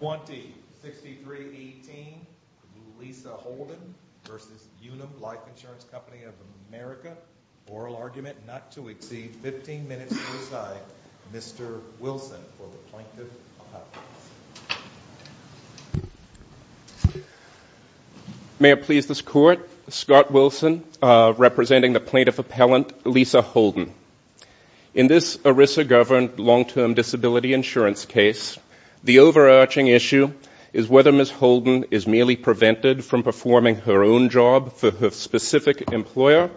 20-63-18 Lisa Holden v. Unum Life Insurance Co. of America Oral argument not to exceed 15 minutes to decide Mr. Wilson for the Plaintiff Appellant May it please this Court, Scott Wilson representing the Plaintiff Appellant Lisa Holden In this ERISA governed long-term disability insurance case the overarching issue is whether Ms. Holden is merely prevented from performing her own job for her specific employer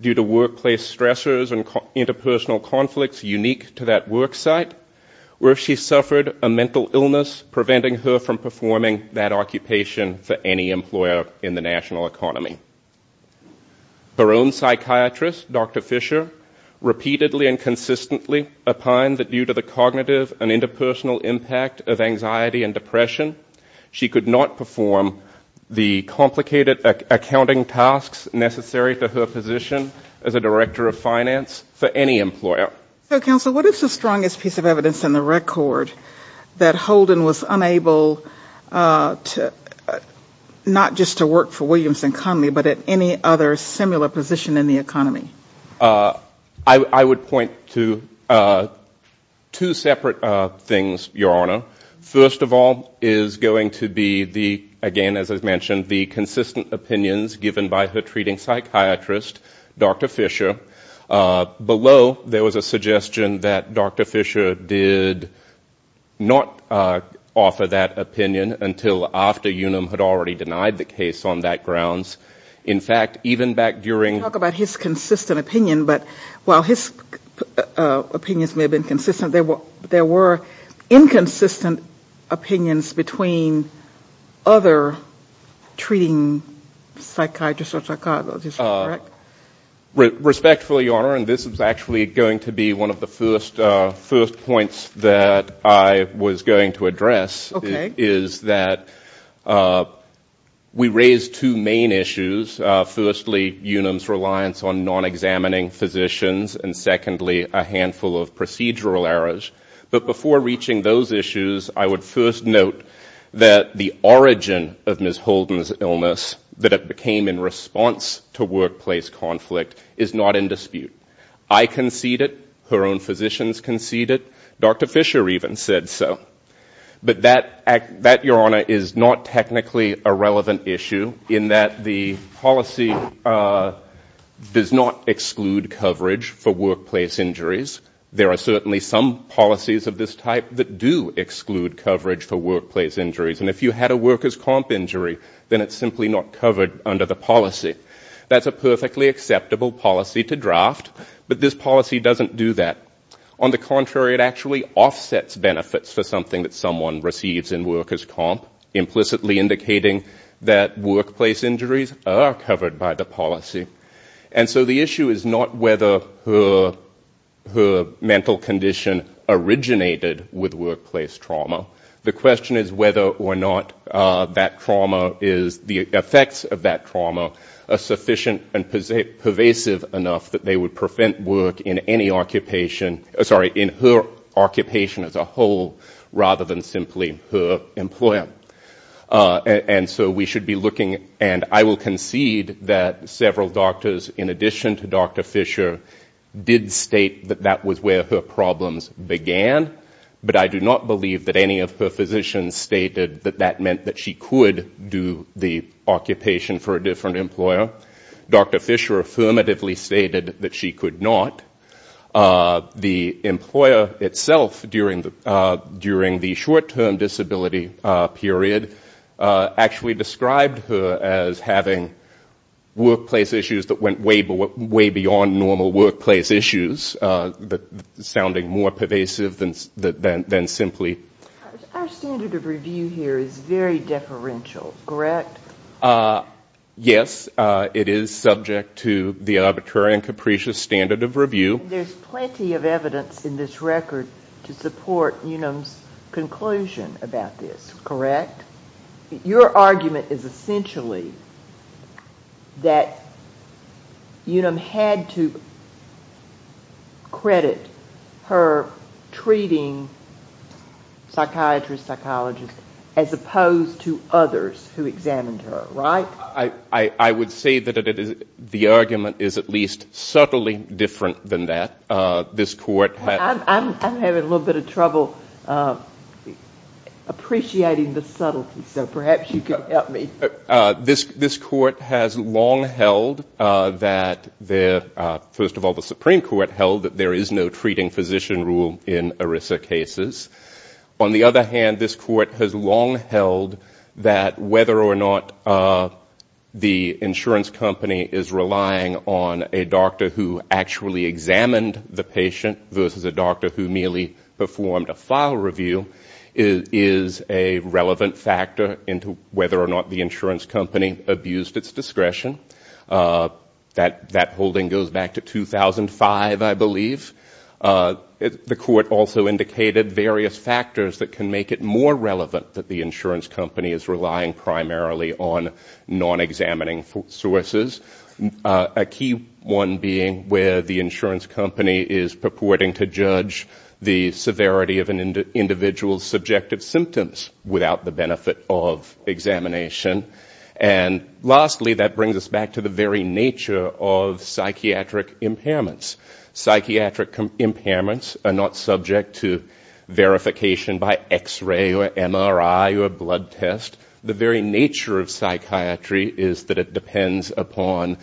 due to workplace stressors and interpersonal conflicts unique to that work site or if she suffered a mental illness preventing her from performing that occupation for any employer in the national economy. due to the cognitive and interpersonal impact of anxiety and depression she could not perform the complicated accounting tasks necessary to her position as a Director of Finance for any employer. So Counsel, what is the strongest piece of evidence in the record that Holden was unable to, not just to work for Williamson Company but at any other similar position in the economy? I would point to two separate things, Your Honor. First of all is going to be the, again as I've mentioned, the consistent opinions given by her treating psychiatrist, Dr. Fisher. Below there was a suggestion that Dr. Fisher did not offer that opinion until after Unum had already denied the case on that grounds. In fact, even back during... Talk about his consistent opinion, but while his opinions may have been consistent, there were inconsistent opinions between other treating psychiatrists or psychologists, correct? Respectfully, Your Honor, and this is actually going to be one of the first points that I was going to address. Okay. My point is that we raised two main issues. Firstly, Unum's reliance on non-examining physicians, and secondly, a handful of procedural errors. But before reaching those issues, I would first note that the origin of Ms. Holden's illness that it became in response to workplace conflict is not in dispute. I conceded, her own physicians conceded, Dr. Fisher even said so. But that, Your Honor, is not technically a relevant issue in that the policy does not exclude coverage for workplace injuries. There are certainly some policies of this type that do exclude coverage for workplace injuries. And if you had a workers' comp injury, then it's simply not covered under the policy. That's a perfectly acceptable policy to draft, but this policy doesn't do that. On the contrary, it actually offsets benefits for something that someone receives in workers' comp, implicitly indicating that workplace injuries are covered by the policy. And so the issue is not whether her mental condition originated with workplace trauma. The question is whether or not that trauma is, the effects of that trauma, sufficient and pervasive enough that they would prevent work in any occupation, sorry, in her occupation as a whole, rather than simply her employer. And so we should be looking, and I will concede that several doctors, in addition to Dr. Fisher, did state that that was where her problems began. But I do not believe that any of her physicians stated that that meant that she could do the occupation for a different employer. Dr. Fisher affirmatively stated that she could not. The employer itself, during the short-term disability period, actually described her as having workplace issues that went way beyond normal workplace issues, sounding more pervasive than simply... Yes, it is subject to the arbitrary and capricious standard of review. There's plenty of evidence in this record to support Unum's conclusion about this, correct? Your argument is essentially that Unum had to credit her treating psychiatrists, psychologists, as opposed to others who examined her, right? I would say that the argument is at least subtly different than that. I'm having a little bit of trouble appreciating the subtlety, so perhaps you could help me. This Court has long held that, first of all, the Supreme Court held that there is no treating physician rule in ERISA cases. On the other hand, this Court has long held that whether or not the insurance company is relying on a doctor who actually examined the patient versus a doctor who merely performed a file review is a relevant factor into whether or not the insurance company abused its discretion. That holding goes back to 2005, I believe. The Court also indicated various factors that can make it more relevant that the insurance company is relying primarily on non-examining sources. A key one being where the insurance company is purporting to judge the severity of an individual's subjective symptoms without the benefit of examination. And lastly, that brings us back to the very nature of psychiatric impairments. Psychiatric impairments are not subject to verification by x-ray or MRI or blood test. The very nature of psychiatry is that it depends upon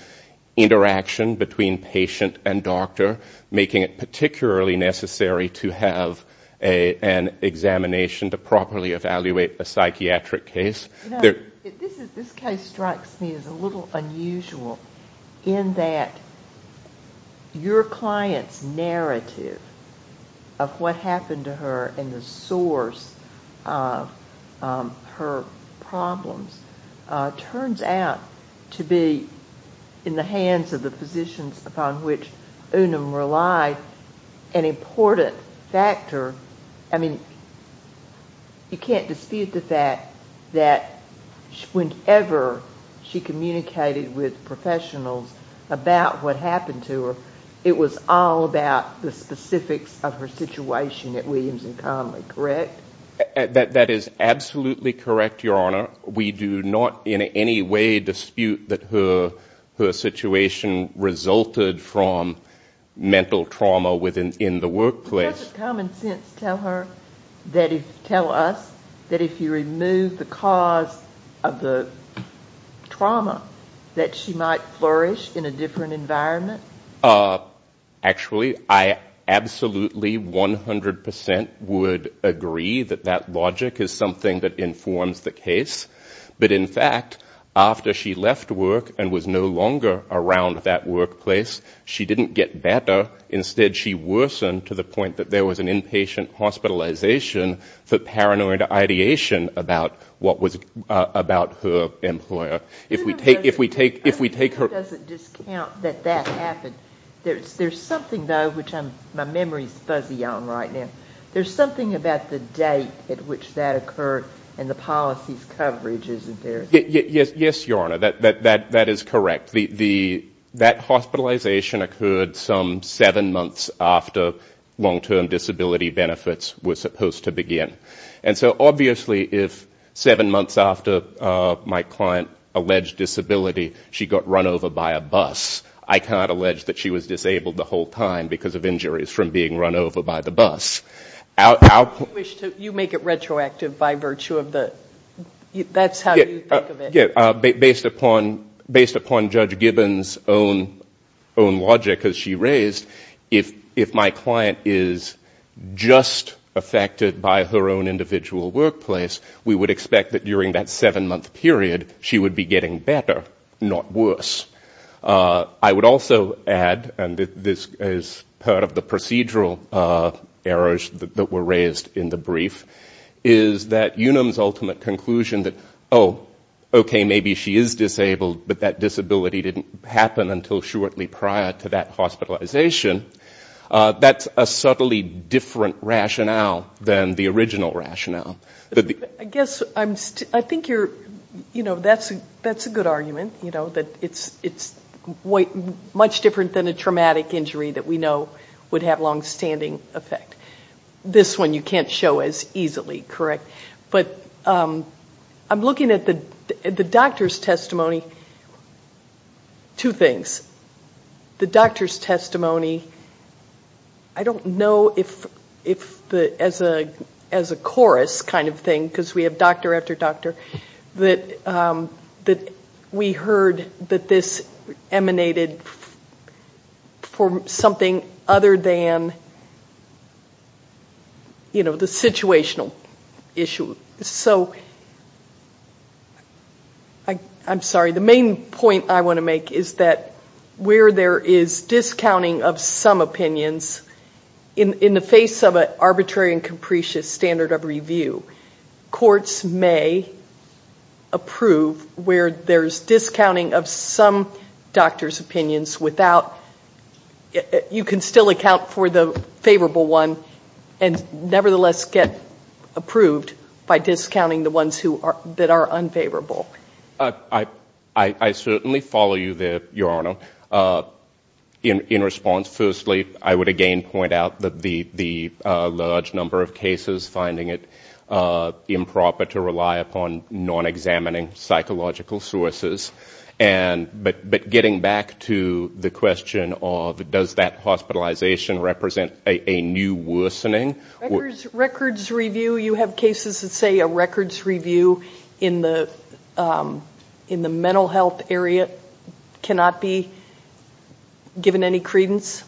interaction between patient and doctor, making it particularly necessary to have an examination to properly evaluate a psychiatric case. This case strikes me as a little unusual in that your client's narrative of what happened to her and the source of her problems turns out to be in the hands of the physicians upon which Unum relied an important factor. I mean, you can't dispute the fact that whenever she communicated with professionals about what happened to her, it was all about the specifics of her situation at Williams & Connolly, correct? That is absolutely correct, Your Honor. We do not in any way dispute that her situation resulted from mental trauma in the workplace. Doesn't common sense tell us that if you remove the cause of the trauma, that she might flourish in a different environment? Actually, I absolutely 100% would agree that that logic is something that informs the case. But in fact, after she left work and was no longer around that workplace, she didn't get better. Instead, she worsened to the point that there was an inpatient hospitalization for paranoid ideation about what was about her employer. If we take her... There's something, though, which my memory's fuzzy on right now. There's something about the date at which that occurred and the policies coverage, isn't there? Yes, Your Honor, that is correct. That hospitalization occurred some seven months after long-term disability benefits were supposed to begin. And so obviously, if seven months after my client alleged disability, she got run over by a bus, I cannot allege that she was disabled the whole time because of injuries from being run over by the bus. You make it retroactive by virtue of the... That's how you think of it. Based upon Judge Gibbons' own logic as she raised, if my client is just affected by her own individual workplace, we would expect that during that seven-month period, she would be getting better, not worse. I would also add, and this is part of the procedural errors, that were raised in the brief, is that Unum's ultimate conclusion that, oh, okay, maybe she is disabled, but that disability didn't happen until shortly prior to that hospitalization, that's a subtly different rationale than the original rationale. I guess I'm... I think you're... You know, that's a good argument, you know, that it's much different than a traumatic injury that we know would have longstanding effect. This one you can't show as easily, correct? But I'm looking at the doctor's testimony, two things. The doctor's testimony, I don't know if as a chorus kind of thing, because we have doctor after doctor, that we heard that this emanated from something other than, you know, the situational issue. So I'm sorry, the main point I want to make is that where there is discounting of some opinions, in the face of an arbitrary and capricious standard of review, courts may approve where there's discounting of some doctor's opinion, without... You can still account for the favorable one, and nevertheless get approved by discounting the ones that are unfavorable. I certainly follow you there, Your Honor. In response, firstly, I would again point out that the large number of cases finding it improper to rely upon non-examining psychological sources, but getting back to the question of does that hospitalization represent a new worsening... Records review, you have cases that say a records review in the mental health area cannot be given any credence?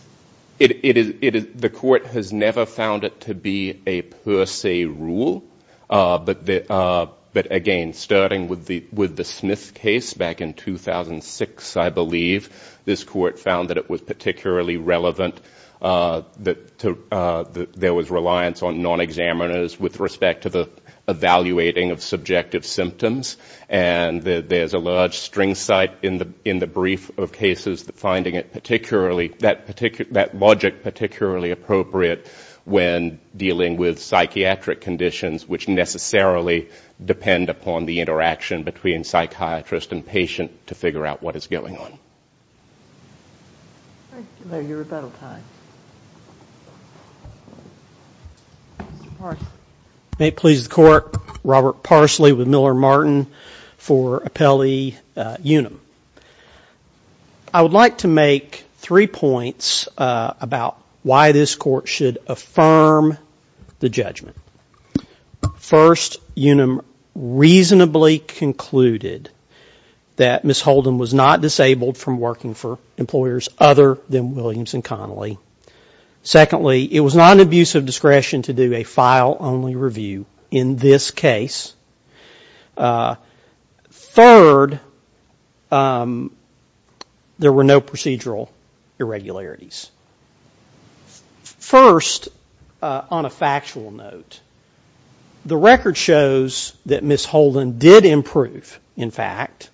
The court has never found it to be a per se rule, but again, starting with the Smith case back in 2006, I believe, this court found that it was particularly relevant. There was reliance on non-examiners with respect to the evaluating of subjective symptoms, and there's a large string site in the brief of cases finding it particularly... That logic particularly appropriate when dealing with psychiatric conditions which necessarily depend upon the interaction between psychiatrist and patient to figure out what is going on. Robert Parsley with Miller Martin for Apelli Unum. I would like to make three points about why this court should affirm the judgment. First, Unum reasonably concluded that Ms. Holden was not disabled from working for employers other than Williams and Connolly. Secondly, it was not an abuse of discretion to do a file-only review in this case. Third, there were no procedural irregularities. First, on a factual note, the record shows that Ms. Holden did improve, in fact,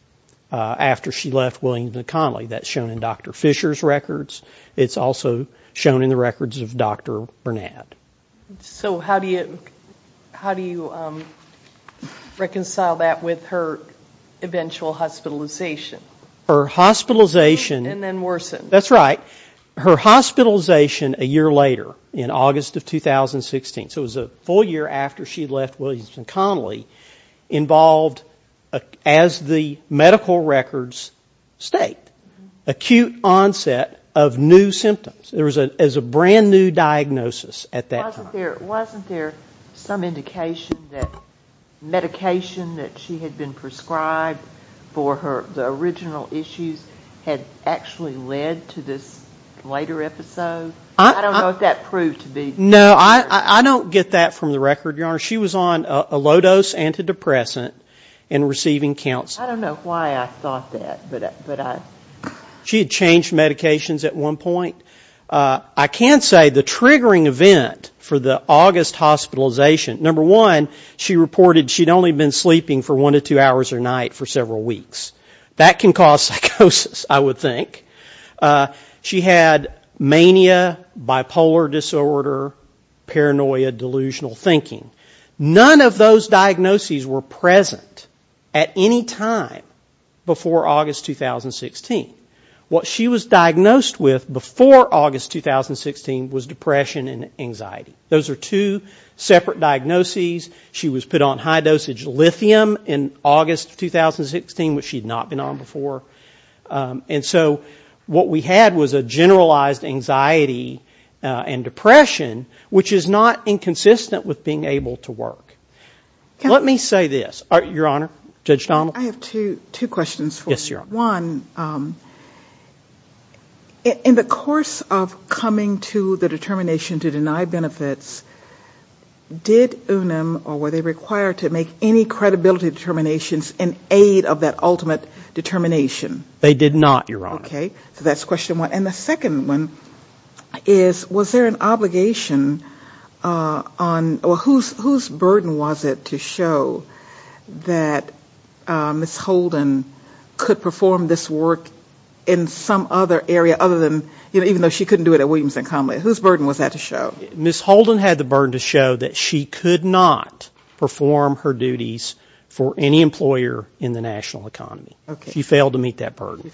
after she left Williams and Connolly. That's shown in Dr. Fisher's records. It's also shown in the records of Dr. Burnett. So how do you reconcile that with her eventual hospitalization? Her hospitalization a year later in August of 2016, so it was a full year after she left Williams and Connolly, involved, as the medical records state, acute onset of new symptoms. There was a brand new diagnosis at that time. Wasn't there some indication that medication that she had been prescribed for the original issues had actually led to this later episode? I don't know if that proved to be true. No, I don't get that from the record, Your Honor. She was on a low-dose antidepressant and receiving counseling. I don't know why I thought that, but I... She had changed medications at one point. I can say the triggering event for the August hospitalization, number one, she reported she'd only been sleeping for one to two hours a night for several weeks. That can cause psychosis, I would think. She had mania, bipolar disorder, paranoia, delusional thinking. None of those diagnoses were present at any time before August 2016. What she was diagnosed with before August 2016 was depression and anxiety. Those are two separate diagnoses. She was put on high dosage lithium in August 2016, which she'd not been on before. And so what we had was a generalized anxiety and depression, which is not inconsistent with being able to work. Let me say this, Your Honor, Judge Donnell. I have two questions for you. One, in the course of coming to the determination to deny benefits, did UNAM, or were they required to make any credibility determinations in aid of that ultimate determination? They did not, Your Honor. Okay. So that's question one. And the second one is, was there an obligation on, whose burden was it to show that Ms. Holden could perform this work in some other area other than, you know, even though she couldn't do it at Williams and Connolly? Whose burden was that to show? Ms. Holden had the burden to show that she could not perform her duties for any employer in the national economy. She failed to meet that burden.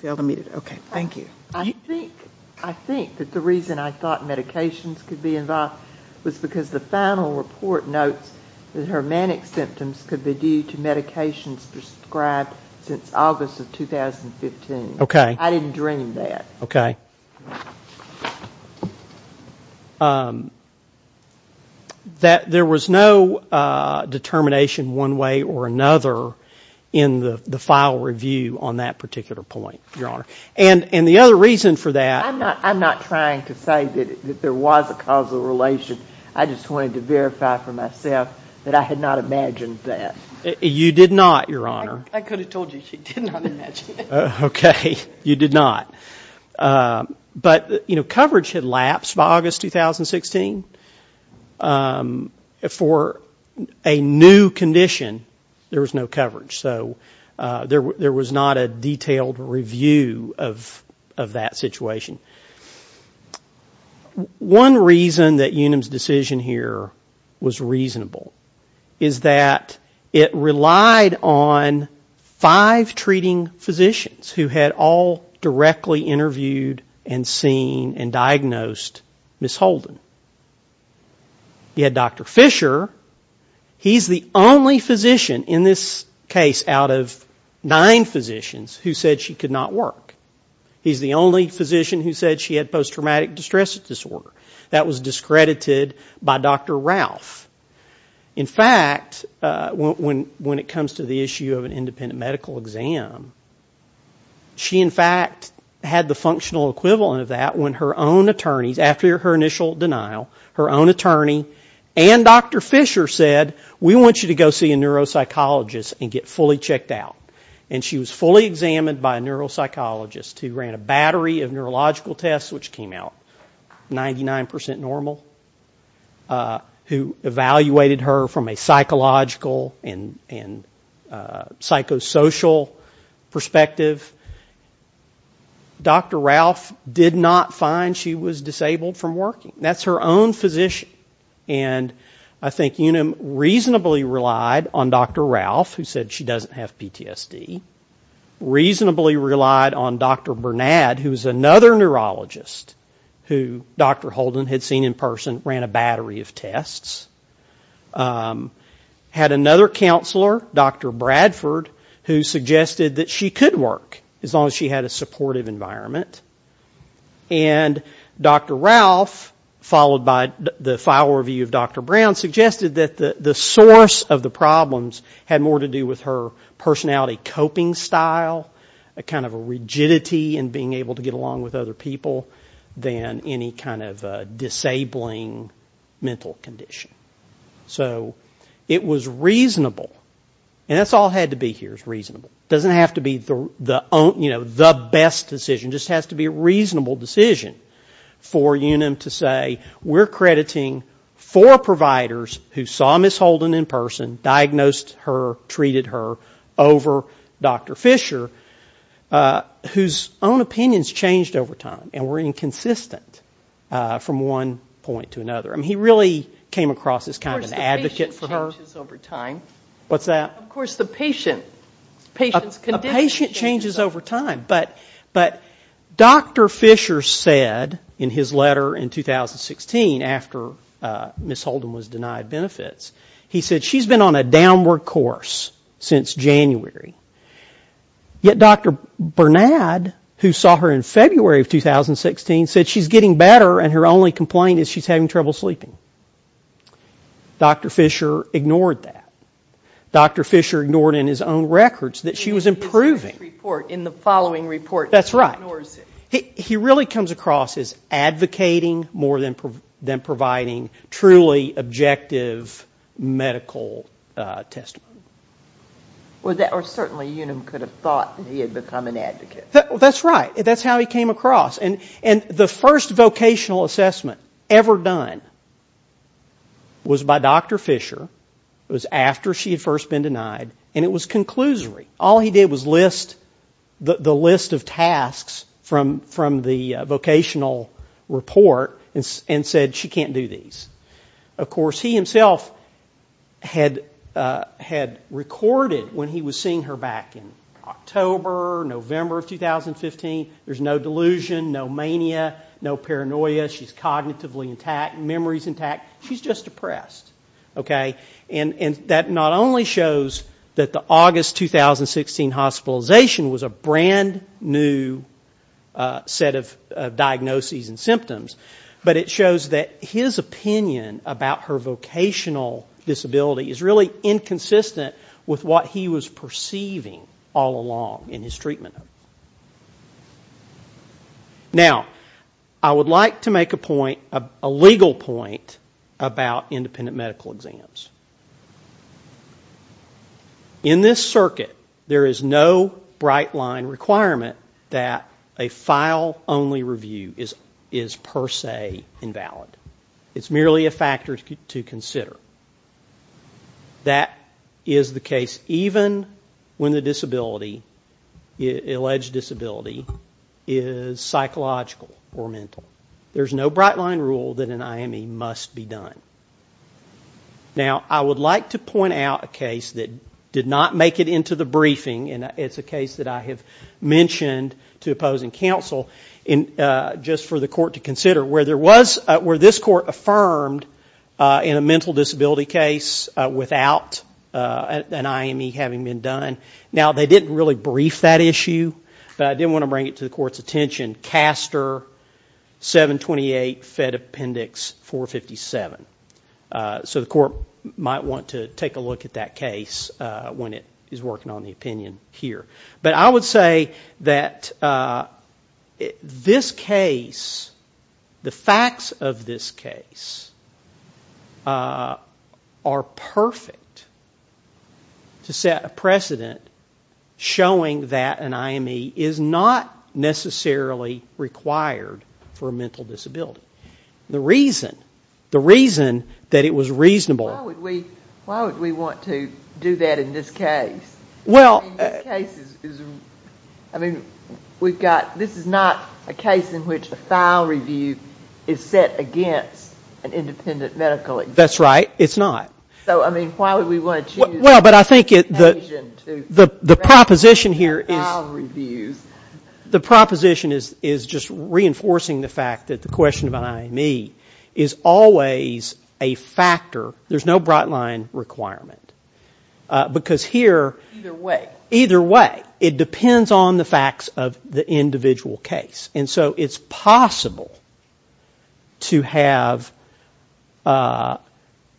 I think that the reason I thought medications could be involved was because the final report notes that her manic symptoms could be due to medications prescribed since August of 2015. I didn't dream that. Okay. That there was no determination one way or another in the file review on that particular point, Your Honor. And the other reason for that. I'm not trying to say that there was a causal relation. I just wanted to verify for myself that I had not imagined that. You did not, Your Honor. I could have told you she did not imagine it. Okay. You did not. But, you know, coverage had lapsed by August 2016. For a new condition, there was no coverage. So there was not a detailed review of that situation. One reason that Unum's decision here was reasonable is that it relied on five treating physicians who had all directly interviewed and seen and diagnosed Ms. Holden. You had Dr. Fisher. He's the only physician in this case out of nine physicians who said she could not work. He's the only physician who said she had post-traumatic distress disorder. That was discredited by Dr. Ralph. In fact, when it comes to the issue of an independent medical exam, she, in fact, had the functional equivalent of that when her own attorneys, after her initial denial, her own attorney and Dr. Fisher said, we want you to go see a neuropsychologist and get fully checked out. And she was fully examined by a neuropsychologist who ran a battery of neurological tests, which came out 99% normal, who evaluated her from a psychological and psychosocial perspective. Dr. Ralph did not find she was disabled from working. That's her own physician. And I think Unum reasonably relied on Dr. Ralph, who said she doesn't have PTSD, reasonably relied on Dr. Bernad, who was another neurologist, who Dr. Holden had seen in person, ran a battery of tests, had another counselor, Dr. Bradford, who suggested that she could work, as long as she had a supportive environment. And Dr. Ralph, followed by the file review of Dr. Brown, suggested that the source of the problems had more to do with her personality coping style, kind of a rigidity in being able to get along with other people than any kind of disabling mental condition. So it was reasonable, and that's all it had to be here, is reasonable. It doesn't have to be the best decision, just has to be a reasonable decision for Unum to say, we're crediting four providers who saw Ms. Holden in person, diagnosed her, treated her, over Dr. Fisher, whose own opinions changed over time and were inconsistent from one point to another. I mean, he really came across as kind of an advocate for her. What's that? Of course, the patient. A patient changes over time, but Dr. Fisher said in his letter in 2016, after Ms. Holden was denied benefits, he said, she's been on a downward course since January. Yet Dr. Bernard, who saw her in February of 2016, said she's getting better, and her only complaint is she's having trouble sleeping. Dr. Fisher ignored that. Dr. Fisher ignored in his own records that she was improving. He really comes across as advocating more than providing truly objective medical testimony. Or certainly Unum could have thought he had become an advocate. That's right. That's how he came across. And the first vocational assessment ever done was by Dr. Fisher. It was after she had first been denied, and it was conclusory. All he did was list the list of tasks from the vocational report and said, she can't do these. Of course, he himself had recorded when he was seeing her back in October, November of 2015, there's no delusion, no mania, no paranoia, she's cognitively intact, memory's intact, she's just depressed. And that not only shows that the August 2016 hospitalization was a brand new set of diagnoses and symptoms, but it shows that his opinion about her vocational disability is really inconsistent with what he was perceiving all along in his treatment. Now, I would like to make a point, a legal point, about independent medical exams. In this circuit, there is no bright line requirement that a file-only review is personal. It's merely a factor to consider. That is the case even when the disability, alleged disability, is psychological or mental. There's no bright line rule that an IME must be done. Now, I would like to point out a case that did not make it into the briefing, and it's a case that I have mentioned to opposing counsel, just for the court to consider, where this court affirmed in a mental disability case without an IME having been done. Now, they didn't really brief that issue, but I did want to bring it to the court's attention. Caster 728, Fed Appendix 457. So the court might want to take a look at that case when it is working on the opinion here. But I would say that this case, the facts of this case, are perfect to set a precedent showing that an IME is not necessarily required for a mental disability. The reason, the reason that it was reasonable... Why would we want to do that in this case? I mean, we've got, this is not a case in which a file review is set against an independent medical examiner. That's right, it's not. So, I mean, why would we want to choose... Well, but I think the proposition here is... The proposition is just reinforcing the fact that the question of an IME is always a factor, there's no broad line requirement. Because here... Either way, it depends on the facts of the individual case. And so it's possible to have a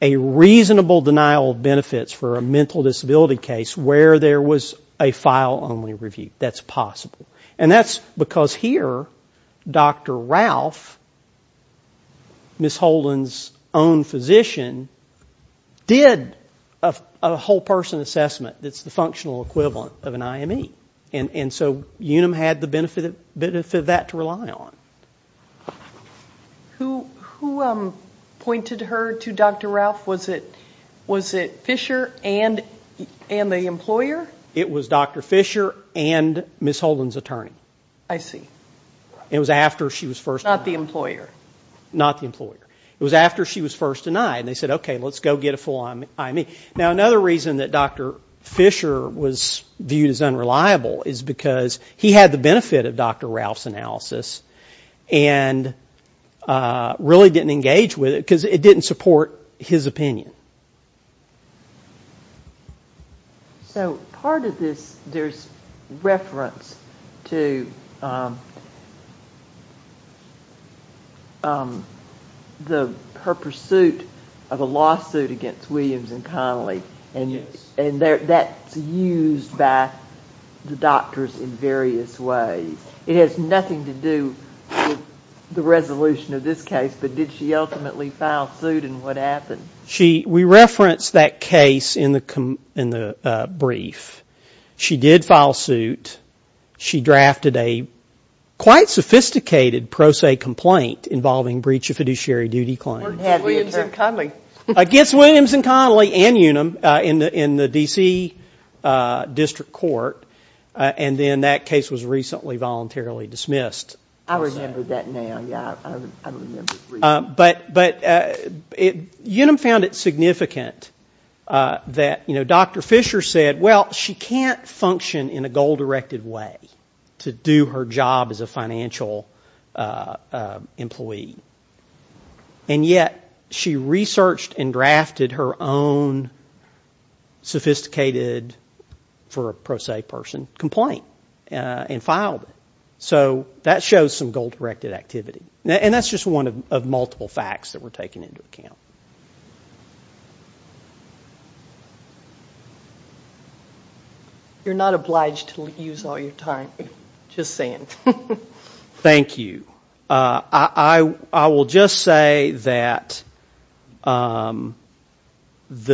reasonable denial of benefits for a mental disability case where there was a file only review. That's possible. And that's because here, Dr. Ralph, Ms. Holden's own physician, did a whole person assessment that's the functional equivalent of an IME. And so Unum had the benefit of that to rely on. Who pointed her to Dr. Ralph? Was it Fisher and the employer? It was Dr. Fisher and Ms. Holden's attorney. I see. Not the employer. It was after she was first denied and they said, okay, let's go get a full IME. Now, another reason that Dr. Fisher was viewed as unreliable is because he had the benefit of Dr. Ralph's analysis and really didn't engage with it because it didn't support his opinion. So part of this, there's reference to her pursuit of a lawsuit against Williams and Connolly. And that's used by the doctors in various ways. It has nothing to do with the resolution of this case, but did she ultimately file suit and what happened? We referenced that case in the brief. She did file suit. She drafted a quite sophisticated pro se complaint involving breach of fiduciary duty claims. Against Williams and Connolly and Unum in the D.C. District Court. And then that case was recently voluntarily dismissed. Unum found it significant that Dr. Fisher said, well, she can't function in a goal directed way to do her job as a financial employee. And yet she researched and drafted her own sophisticated for a pro se person complaint and filed it. So that shows some goal directed activity. And that's just one of multiple facts that we're taking into account. You're not obliged to use all your time. Just saying. Thank you. I will just say that the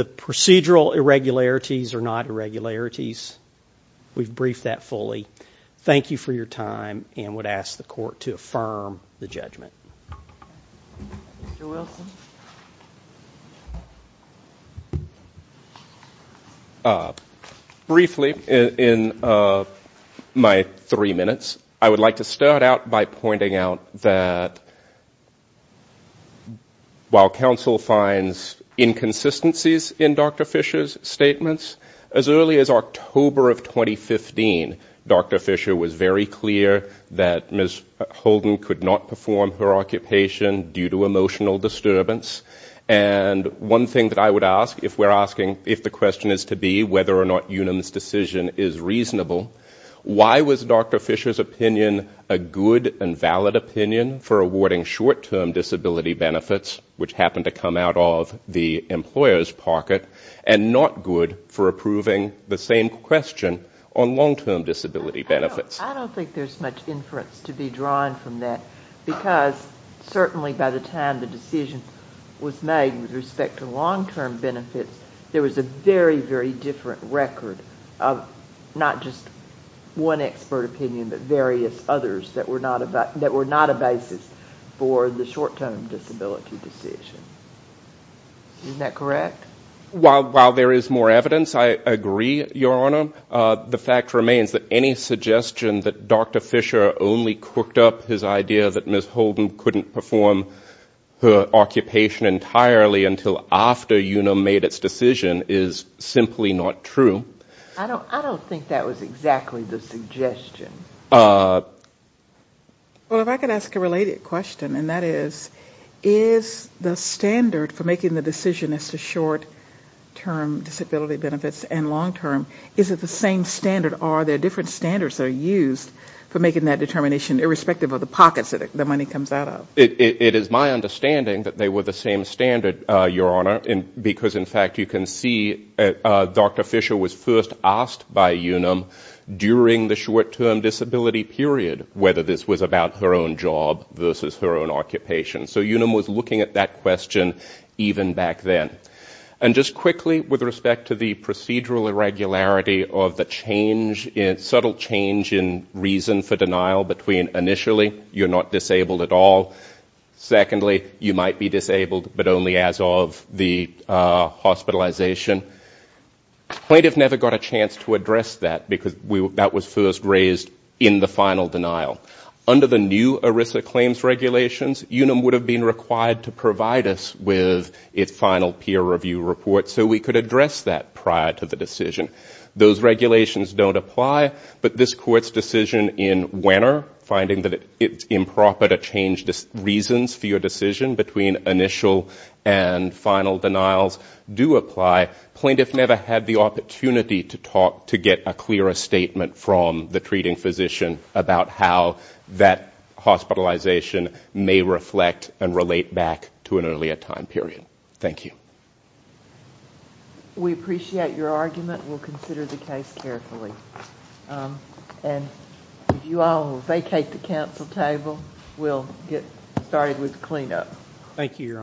procedural irregularities are not irregularities. We've briefed that fully. Thank you for your time and would ask the court to affirm the judgment. Briefly in my three minutes, I would like to start out by pointing out that while counsel finds inconsistencies in Dr. Fisher's statements, as early as October of 2015, Dr. Fisher was very clear that Ms. Holden could not perform her occupation due to emotional disturbance. And one thing that I would ask, if we're asking if the question is to be whether or not Unum's decision is reasonable, why was Dr. Fisher's opinion a good and valid opinion for awarding short-term disability benefits, which happened to come out of the employer's pocket, and not good for approving the same question on long-term disability benefits? I don't think there's much inference to be drawn from that, because certainly by the time the decision was made with respect to long-term benefits, there was a very, very different record of not just one expert opinion, but various others that were not a basis for the short-term disability decision. Isn't that correct? While there is more evidence, I agree, Your Honor. The fact remains that any suggestion that Dr. Fisher only cooked up his idea that Ms. Holden couldn't perform her occupation entirely because the decision is simply not true. I don't think that was exactly the suggestion. Well, if I could ask a related question, and that is, is the standard for making the decision as to short-term disability benefits and long-term, is it the same standard, or are there different standards that are used for making that determination, irrespective of the pockets that the money comes out of? It is my understanding that they were the same standard, Your Honor, because in fact you can see Dr. Fisher was first asked by Unum during the short-term disability period whether this was about her own job versus her own occupation. So Unum was looking at that question even back then. And just quickly, with respect to the procedural irregularity of the change, subtle change in reason for denial between initially, you're not disabled at all, secondly, you might be disabled, but only as of the hospitalization. Plaintiff never got a chance to address that, because that was first raised in the final denial. Under the new ERISA claims regulations, Unum would have been required to provide us with its final piece of information. So we could address that prior to the decision. Those regulations don't apply, but this Court's decision in Wenner, finding that it's improper to change reasons for your decision between initial and final denials, do apply. Plaintiff never had the opportunity to talk to get a clearer statement from the treating physician about how that hospitalization may reflect and relate back to an earlier time period. Thank you. We appreciate your argument. We'll consider the case carefully. If you all will vacate the council table, we'll get started with the cleanup. Thank you, Your Honor.